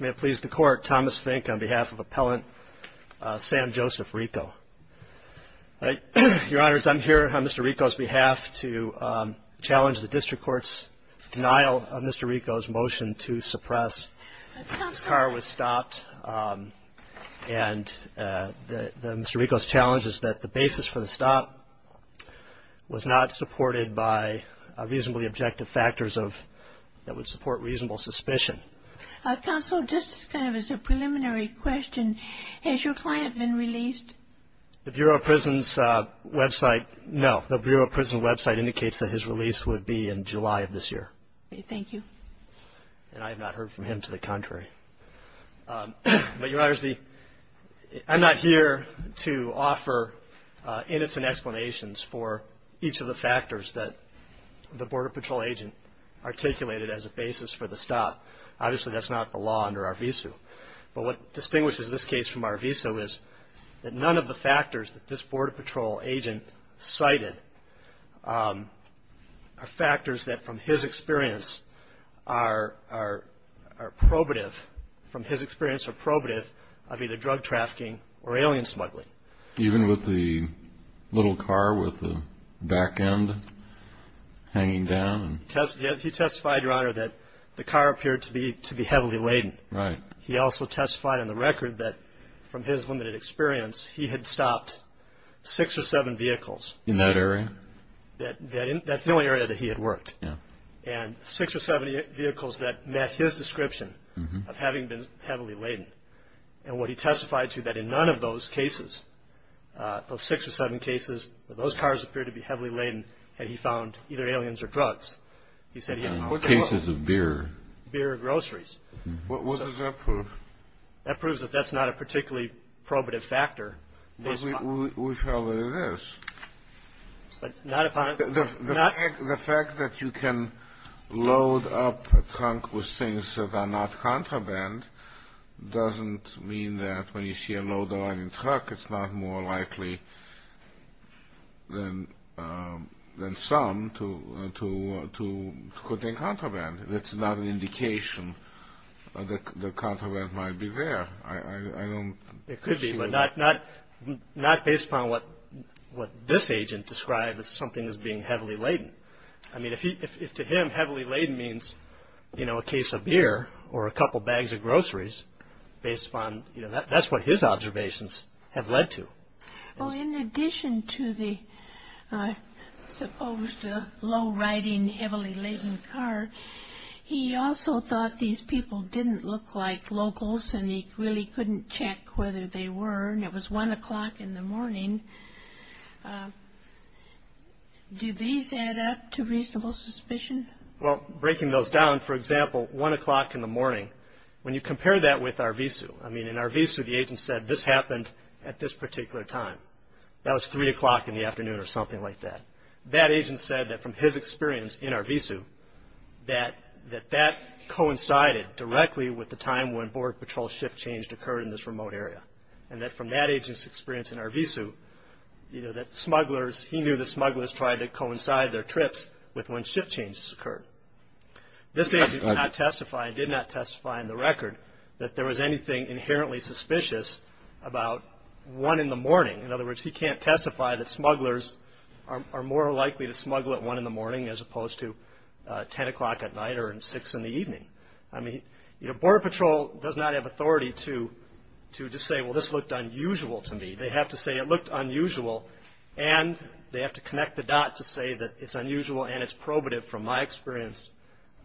May it please the Court, Thomas Fink on behalf of Appellant Sam Joseph RICO. Your Honors, I'm here on Mr. RICO's behalf to challenge the District Court's denial of Mr. RICO's motion to suppress his car was stopped and Mr. RICO's challenge is that the reasonable suspicion. Counsel, just kind of as a preliminary question, has your client been released? The Bureau of Prisons website, no, the Bureau of Prisons website indicates that his release would be in July of this year. Thank you. And I have not heard from him to the contrary. But Your Honors, I'm not here to offer innocent explanations for each of the factors that the Border Patrol agent articulated as a basis for the stop. Obviously, that's not the law under our visa. But what distinguishes this case from our visa is that none of the factors that this Border Patrol agent cited are factors that from his experience are probative, from his experience are probative of either drug trafficking or alien smuggling. Even with the little car with the back end hanging down? He testified, Your Honor, that the car appeared to be heavily laden. He also testified on the record that from his limited experience, he had stopped six or seven vehicles. In that area? That's the only area that he had worked. And six or seven vehicles that met his description of having been heavily laden. And what he testified to, that in none of those cases, those six or seven cases, that those cars appeared to be heavily laden had he found either aliens or drugs. He said he hadn't. What cases of beer? Beer or groceries. What does that prove? That proves that that's not a particularly probative factor. We found that it is. The fact that you can load up a trunk with things that are not contraband doesn't mean that when you see a load-aligning truck, it's not more likely than some to contain contraband. That's not an indication that contraband might be there. It could be, but not based upon what this agent described as something as being heavily laden. I mean, if to him heavily laden means a case of beer or a couple bags of groceries, that's what his observations have led to. In addition to the supposed low-riding, heavily laden car, he also thought these people didn't look like locals, and he really couldn't check whether they were, and it was 1 o'clock in the morning. Do these add up to reasonable suspicion? Well, breaking those down, for example, 1 o'clock in the morning, when you compare that with Arvizu, I mean, in Arvizu, the agent said this happened at this particular time. That was 3 o'clock in the afternoon or something like that. That agent said that from his experience in Arvizu, that that coincided directly with the time when Border Patrol shift change occurred in this remote area, and that from that agent's experience in Arvizu, that smugglers, he knew the smugglers tried to coincide their trips with when shift changes occurred. This agent did not testify in the record that there was anything inherently suspicious about 1 in the morning. In other words, he can't testify that smugglers are more likely to smuggle at 1 in the morning as opposed to 10 o'clock at night or 6 in the evening. I mean, Border Patrol does not have authority to just say, well, this looked unusual to me. They have to say it looked unusual, and they have to connect the dot to say that it's unusual and it's probative, from my experience,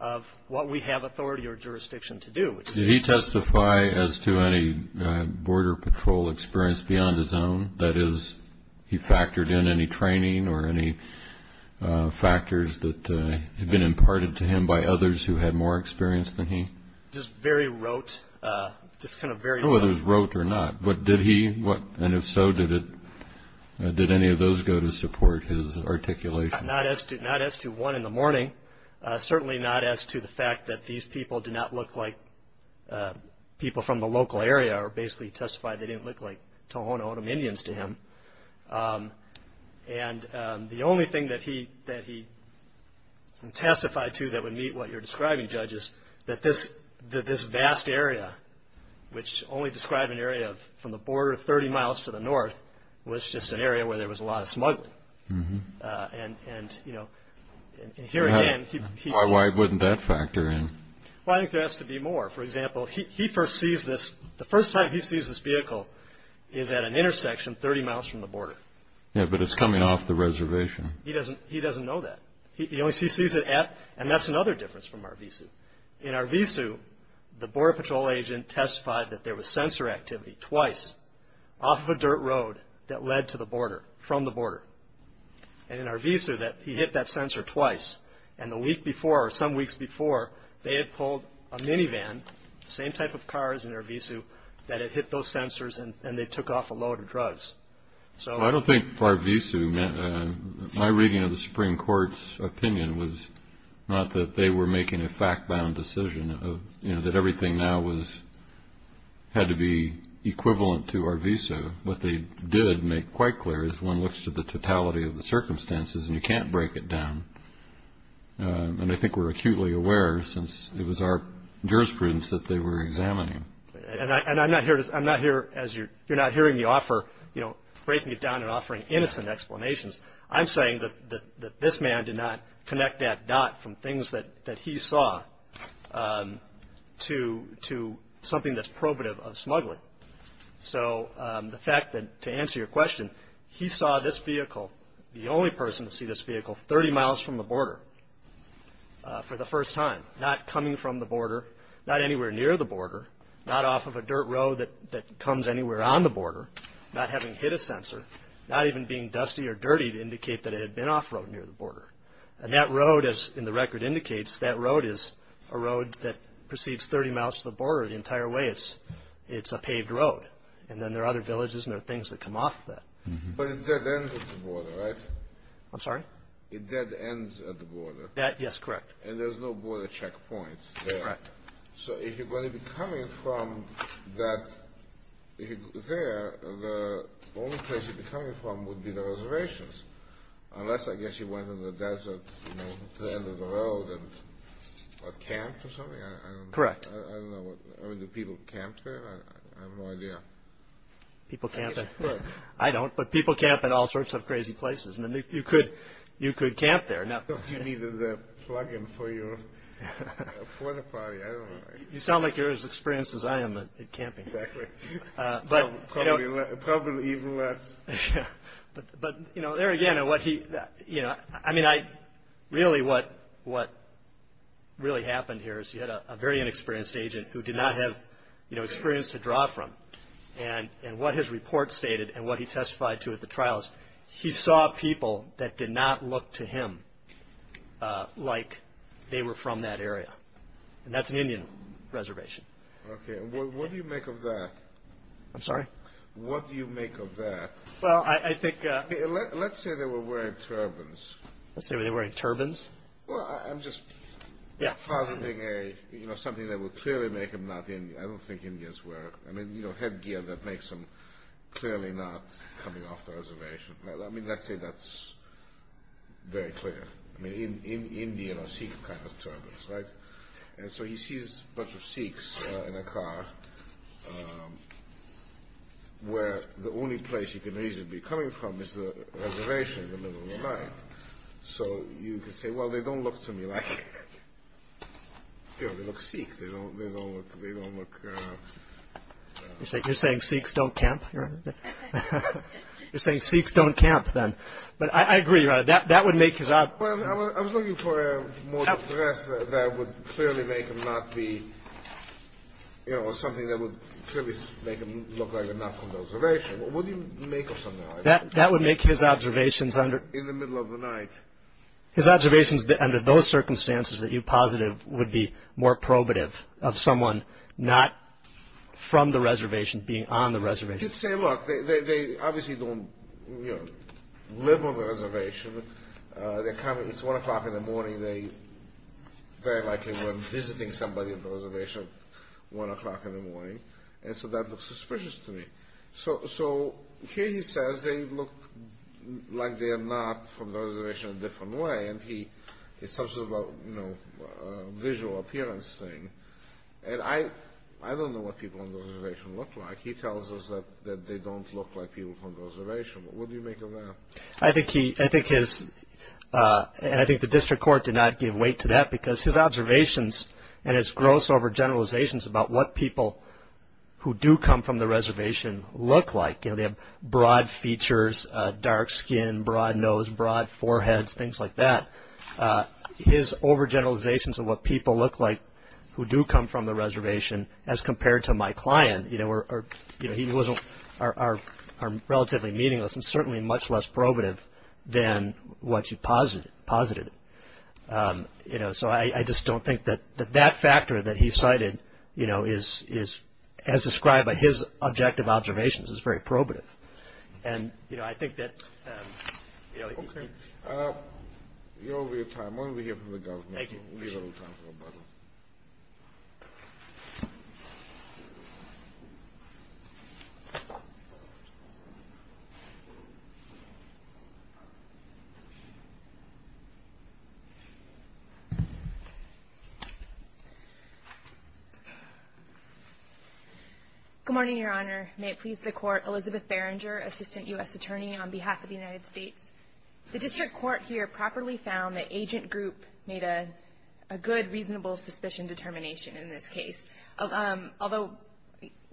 of what we have authority or jurisdiction to do. Did he testify as to any Border Patrol experience beyond his own? That is, he factored in any training or any factors that had been imparted to him by others who had more experience than he? Just very rote. Just kind of very rote. I don't know whether it was rote or not, but did he, and if so, did any of those go to support his articulation? Not as to 1 in the morning. Certainly not as to the fact that these people did not look like people from the local area or basically testified they didn't look like Tohono O'odham Indians to him. The only thing that he testified to that would meet what you're describing, Judge, is that this vast area, which only described an area from the border 30 miles to the north, was just an area where there was a lot of smuggling. And, you know, and here again, he Why wouldn't that factor in? Well, I think there has to be more. For example, he first sees this, the first time he sees this vehicle is at an intersection 30 miles from the border. Yeah, but it's coming off the reservation. He doesn't, he doesn't know that. He only sees it at, and that's another difference from Arvizu. In Arvizu, the Border Patrol agent testified that there was sensor activity twice off of a dirt road that led to the border from the border and in Arvizu that he hit that sensor twice and the week before or some weeks before they had pulled a minivan, same type of cars in Arvizu, that had hit those sensors and they took off a load of drugs. So I don't think Arvizu, my reading of the Supreme Court's opinion was not that they were making a fact-bound decision of, you know, that everything now was, had to be equivalent to Arvizu. What they did make quite clear is one looks to the totality of the circumstances and you can't break it down. And I think we're acutely aware since it was our jurisprudence that they were examining. And I'm not here, I'm not here as you're, you're not hearing me offer, you know, breaking it down and offering innocent explanations. I'm saying that this man did not connect that dot from things that he saw to, to something that's probative of smuggling. So the fact that, to answer your question, he saw this vehicle, the only person to see this vehicle, 30 miles from the border for the first time. Not coming from the border, not anywhere near the border, not off of a dirt road that comes anywhere on the border, not having hit a sensor, not even being dusty or dirty to indicate that it had been off-road near the border. And that road, as in the record indicates, that road is a road that proceeds 30 miles to the border. The entire way it's, it's a paved road. And then there are other villages and there are things that come off of that. But it dead ends at the border, right? I'm sorry? It dead ends at the border. That, yes, correct. And there's no border checkpoints there. Correct. So if you're going to be coming from that, if you go there, the only place you'd be coming from would be the reservations. Unless, I guess, you went in the desert, you know, to the end of the road and, what, camp or something? I don't know. Correct. I don't know. I don't know. I mean, do people camp there? I have no idea. People camp at, I don't, but people camp at all sorts of crazy places and you could, you could camp there. Do you need the plug-in for your, for the plug-in, I don't know. You sound like you're as experienced as I am at camping. Exactly. But, you know. Probably even less. Yeah. But, but, you know, there again, what he, you know, I mean, I, really what, what really happened here is he had a, a very inexperienced agent who did not have, you know, experience to draw from and, and what his report stated and what he testified to at the trials, he saw people that did not look to him like they were from that area and that's an Indian reservation. Okay. And what, what do you make of that? I'm sorry? What do you make of that? Well, I, I think. Let's say they were wearing turbans. Let's say they were wearing turbans? Well, I'm just. Yeah. I mean, you know, something that would clearly make them not Indian. I don't think Indians were, I mean, you know, headgear that makes them clearly not coming off the reservation. Now let me, let's say that's very clear. I mean, Indian or Sikh kind of turbans, right? And so he sees a bunch of Sikhs in a car where the only place you can reasonably be coming from is the reservation in the middle of the night. So you could say, well, they don't look to me like, you know, they look Sikh. They don't, they don't look, they don't look, uh... You're saying, you're saying Sikhs don't camp? You're saying Sikhs don't camp, then? But I agree, right? That, that would make his... Well, I was looking for a more dress that would clearly make him not be, you know, something that would clearly make him look like a not from the reservation. What do you make of something like that? That would make his observations under... In the middle of the night. His observations under those circumstances that you posited would be more probative of someone not from the reservation being on the reservation. You could say, look, they obviously don't, you know, live on the reservation. They're coming, it's one o'clock in the morning. They very likely were visiting somebody at the reservation at one o'clock in the morning. And so that looks suspicious to me. So, so, here he says they look like they are not from the reservation in a different way. And he, it's such a, you know, visual appearance thing. And I, I don't know what people on the reservation look like. He tells us that, that they don't look like people from the reservation. What do you make of that? I think he, I think his, uh, and I think the district court did not give weight to that because his observations and his gross over generalizations about what people who do come from the reservation look like. You know, they have broad features, dark skin, broad nose, broad foreheads, things like that. His over generalizations of what people look like who do come from the reservation as compared to my client, you know, were, you know, he wasn't, are, are, are relatively meaningless and certainly much less probative than what you posited, posited. You know, so I, I just don't think that, that that factor that he cited, you know, is, is as described by his objective observations is very probative. And, you know, I think that, um, you know. Okay. Uh, you're over your time. Why don't we hear from the government? Thank you. We need a little time for a button. Good morning, your honor. May it please the court. Elizabeth Berenger, assistant U.S. attorney on behalf of the United States. The district court here properly found that agent group made a, a good reasonable suspicion determination in this case. Although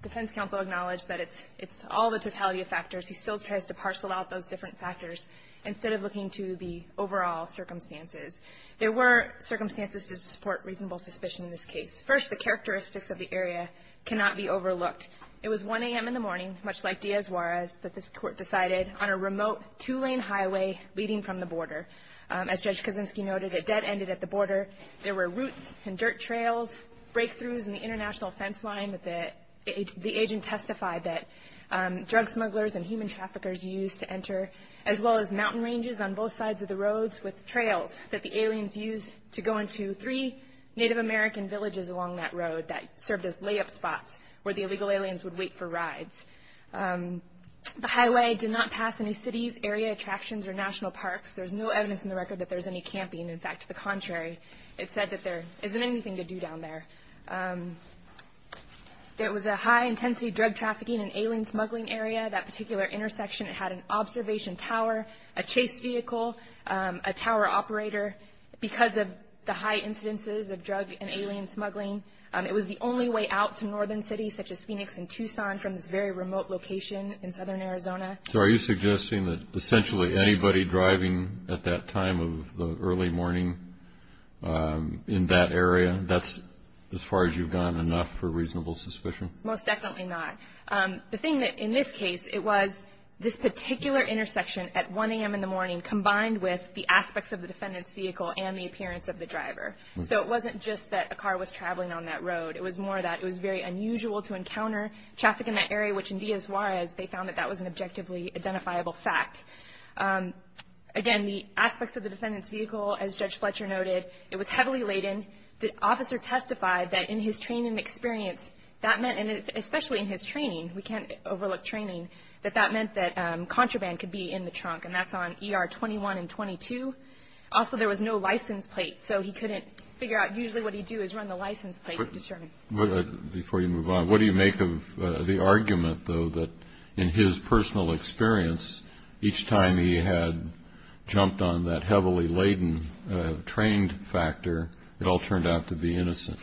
defense counsel acknowledged that it's, it's all the totality of factors, he still tries to parcel out those different factors instead of looking to the overall circumstances. There were circumstances to support reasonable suspicion in this case. First, the characteristics of the area cannot be overlooked. It was 1 a.m. in the morning, much like Diaz-Juarez, that this court decided on a remote two-lane highway leading from the border. As Judge Kosinski noted, it dead-ended at the border. There were roots and dirt trails, breakthroughs in the international fence line that the, the agent testified that drug smugglers and human traffickers used to enter, as well as mountain ranges on both sides of the roads with trails that the aliens used to go into three Native American villages along that road that served as layup spots where the illegal aliens would wait for rides. The highway did not pass any cities, area attractions, or national parks. There's no evidence in the record that there's any camping. In fact, to the contrary, it said that there isn't anything to do down there. There was a high-intensity drug trafficking and alien smuggling area. That particular intersection had an observation tower, a chase vehicle, a tower operator, because of the high incidences of drug and alien smuggling. It was the only way out to northern cities, such as Phoenix and Tucson, from this very remote location in southern Arizona. So are you suggesting that essentially anybody driving at that time of the early morning in that area, that's, as far as you've gone, enough for reasonable suspicion? Most definitely not. The thing that, in this case, it was this particular intersection at 1 a.m. in the morning combined with the aspects of the defendant's vehicle and the appearance of the driver. So it wasn't just that a car was traveling on that road. It was more that it was very unusual to encounter traffic in that area, which in Diaz-Juarez, they found that that was an objectively identifiable fact. Again, the aspects of the defendant's vehicle, as Judge Fletcher noted, it was heavily laden. The officer testified that in his training experience, that meant, and especially in his training, we can't overlook training, that that meant that contraband could be in the trunk, and that's on ER 21 and 22. Also, there was no license plate, so he couldn't figure out. Usually what he'd do is run the license plate to determine. Before you move on, what do you make of the argument, though, that in his personal experience, each time he had jumped on that heavily laden trained factor, it all turned out to be innocent?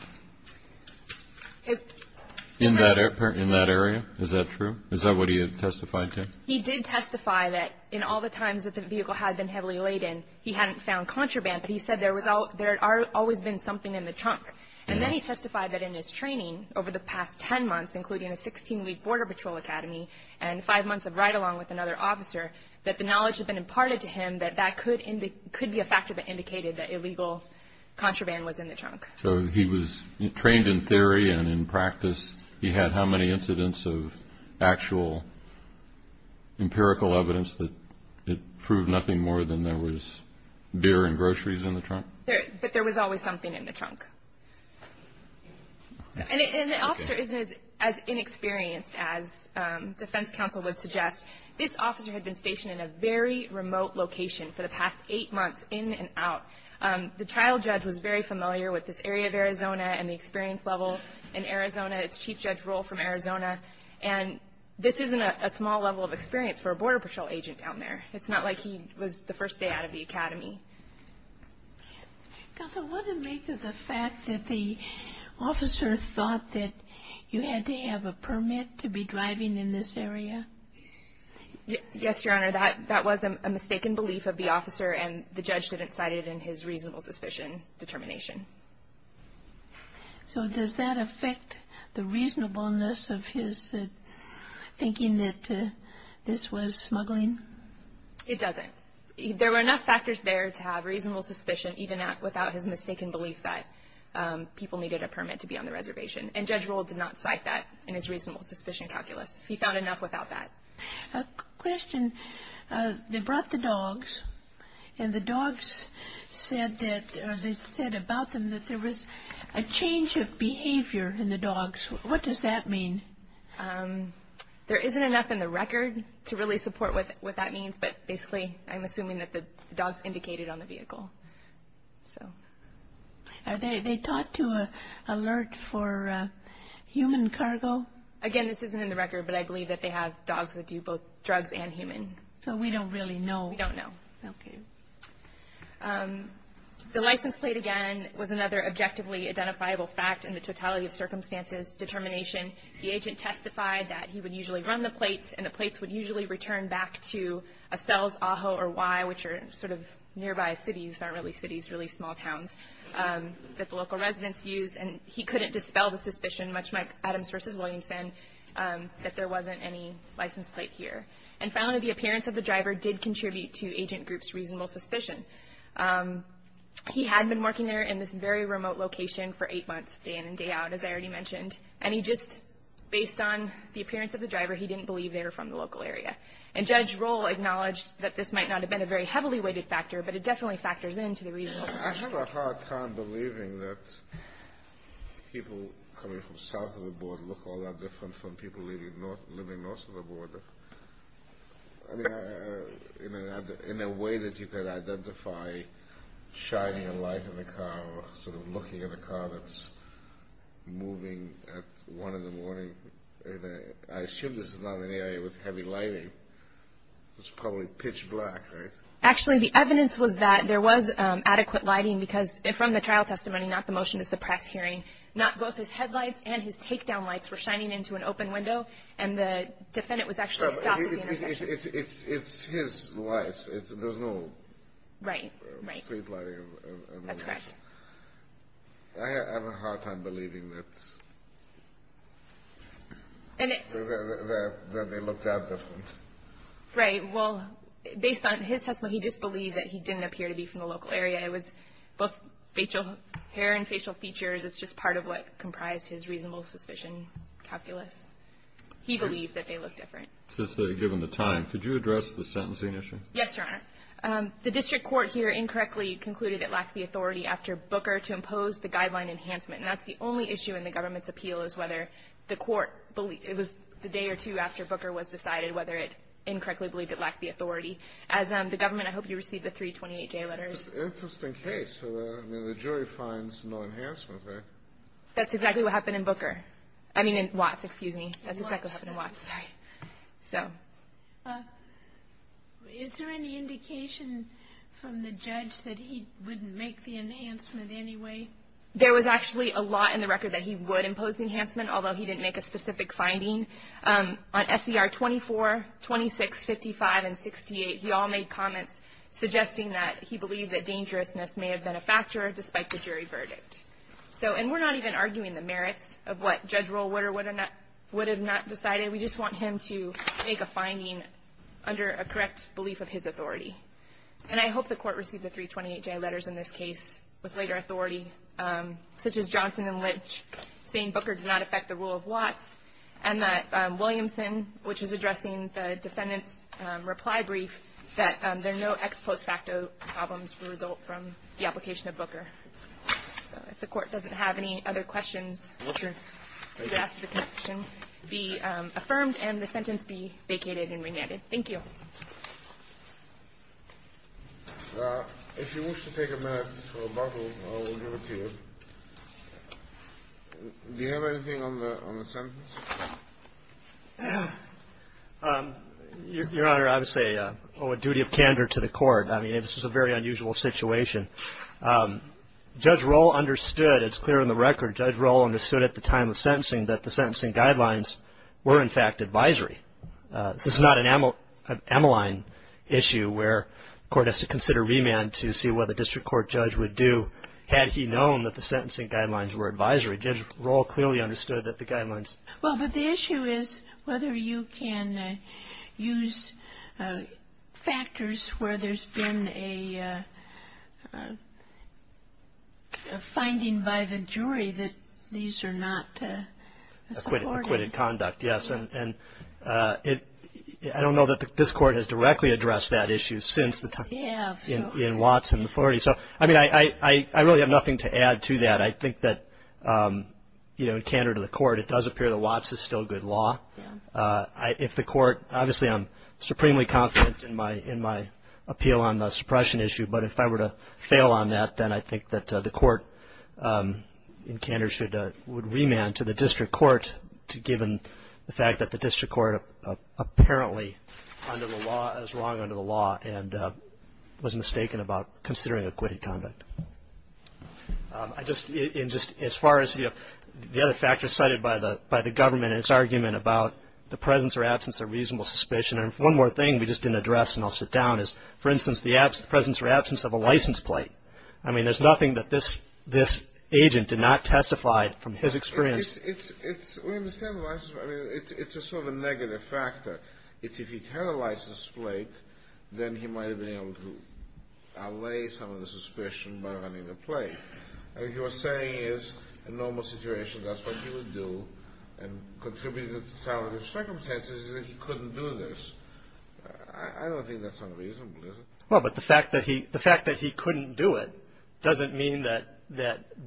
In that area, is that true? Is that what he had testified to? He did testify that in all the times that the vehicle had been heavily laden, he hadn't found contraband, but he said there had always been something in the trunk. And then he testified that in his training over the past 10 months, including a 16-week border patrol academy and five months of ride-along with another officer, that the knowledge had been imparted to him that that could be a factor that indicated that illegal contraband was in the trunk. So he was trained in theory, and in practice, he had how many incidents of actual empirical evidence that it proved nothing more than there was beer and groceries in the trunk? But there was always something in the trunk. And the officer isn't as inexperienced as defense counsel would suggest. This officer had been stationed in a very remote location for the past eight months, in and out. The trial judge was very familiar with this area of Arizona and the experience level in Arizona, its chief judge role from Arizona. And this isn't a small level of experience for a border patrol agent down there. It's not like he was the first day out of the academy. Counsel, what would make of the fact that the officer thought that you had to have a permit to be driving in this area? And the judge didn't cite it in his reasonable suspicion determination. So does that affect the reasonableness of his thinking that this was smuggling? It doesn't. There were enough factors there to have reasonable suspicion, even without his mistaken belief that people needed a permit to be on the reservation. And Judge Rohl did not cite that in his reasonable suspicion calculus. He found enough without that. A question. They brought the dogs and the dogs said that they said about them that there was a change of behavior in the dogs. What does that mean? There isn't enough in the record to really support what that means. But basically, I'm assuming that the dogs indicated on the vehicle. So. Are they taught to alert for human cargo? Again, this isn't in the record, but I believe that they have dogs that do both drugs and human. So we don't really know. We don't know. Okay. The license plate, again, was another objectively identifiable fact in the totality of circumstances determination. The agent testified that he would usually run the plates and the plates would usually return back to a Cells, Ajo, or Y, which are sort of nearby cities, aren't really cities, really small towns, that the local residents use. And he couldn't dispel the suspicion, much like Adams versus Williamson, that there wasn't any license plate here. And finally, the appearance of the driver did contribute to agent group's reasonable suspicion. He had been working there in this very remote location for eight months, day in and day out, as I already mentioned. And he just, based on the appearance of the driver, he didn't believe they were from the local area. And Judge Roll acknowledged that this might not have been a very heavily weighted factor, but it definitely factors into the reasonable suspicion. I have a hard time believing that people coming from south of the border look all that different from people living north of the border. I mean, in a way that you could identify shining a light in the car, or sort of looking at a car that's moving at one in the morning, I assume this is not an area with heavy lighting. It's probably pitch black, right? Actually, the evidence was that there was adequate lighting, because from the trial testimony, not the motion to suppress hearing, not both his headlights and his takedown lights were shining into an open window, and the defendant was actually stopped in the intersection. It's his lights. There's no street lighting. That's correct. I have a hard time believing that they looked that different. Right. Well, based on his testimony, he just believed that he didn't appear to be from the local area. It was both facial hair and facial features. It's just part of what comprised his reasonable suspicion calculus. He believed that they looked different. Since they were given the time, could you address the sentencing issue? Yes, Your Honor. The district court here incorrectly concluded it lacked the authority after Booker to impose the guideline enhancement. And that's the only issue in the government's appeal, is whether the court believed it was the day or two after Booker was decided whether it incorrectly believed it lacked the authority. As the government, I hope you receive the 328-J letters. It's an interesting case. I mean, the jury finds no enhancement, right? That's exactly what happened in Booker. I mean, in Watts, excuse me. That's exactly what happened in Watts. So. Is there any indication from the judge that he wouldn't make the enhancement anyway? There was actually a lot in the record that he would impose the enhancement, although he didn't make a specific finding. On SCR 24, 26, 55, and 68, he all made comments suggesting that he believed that dangerousness may have been a factor despite the jury verdict. So, and we're not even arguing the merits of what Judge Rollwater would have not decided. We just want him to make a finding under a correct belief of his authority. And I hope the court received the 328-J letters in this case with later authority, such as Johnson and Lynch saying Booker did not affect the rule of Watts, and that Williamson, which is addressing the defendant's reply brief, that there are no ex post facto problems for the result from the application of Booker. So if the court doesn't have any other questions, you could ask the connection. Be affirmed and the sentence be vacated and remanded. Thank you. If you wish to take a minute for a bottle, I will give it to you. Do you have anything on the sentence? Your Honor, I would say I owe a duty of candor to the court. I mean, this is a very unusual situation. Judge Roll understood, it's clear in the record, Judge Roll understood at the time of sentencing that the sentencing guidelines were, in fact, advisory. This is not an amyline issue where the court has to consider remand to see what the district court judge would do had he known that the sentencing guidelines were advisory. Judge Roll clearly understood that the guidelines. Well, but the issue is whether you can use factors where there's been a finding by the jury that these are not supported. Acquitted conduct, yes. And I don't know that this court has directly addressed that issue since the time in Watts. So, I mean, I really have nothing to add to that. I think that, you know, in candor to the court, it does appear that Watts is still good law. If the court, obviously, I'm supremely confident in my appeal on the suppression issue, but if I were to fail on that, then I think that the court in candor would remand to the district court given the fact that the district court apparently under the law, is wrong under the law and was mistaken about considering acquitted conduct. I just, in just, as far as, you know, the other factors cited by the government and its argument about the presence or absence of reasonable suspicion. And one more thing we just didn't address, and I'll sit down, is, for instance, the presence or absence of a license plate. I mean, there's nothing that this agent did not testify from his experience. It's, we understand the license plate. I mean, it's a sort of a negative factor. It's if he'd had a license plate, then he might have been able to allay some of the suspicion by running the plate. And what you're saying is a normal situation, that's what he would do, and contributing to the sound of the circumstances is that he couldn't do this. I don't think that's unreasonable, is it? Well, but the fact that he couldn't do it doesn't mean that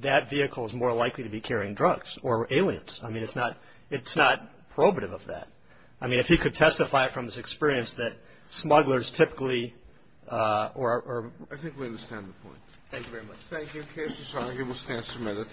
that vehicle is more likely to be carrying drugs or aliens. I mean, it's not probative of that. I mean, if he could testify from his experience that smugglers typically, or I think we understand the point. Thank you very much. Thank you. The case is signed. You will stand submitted.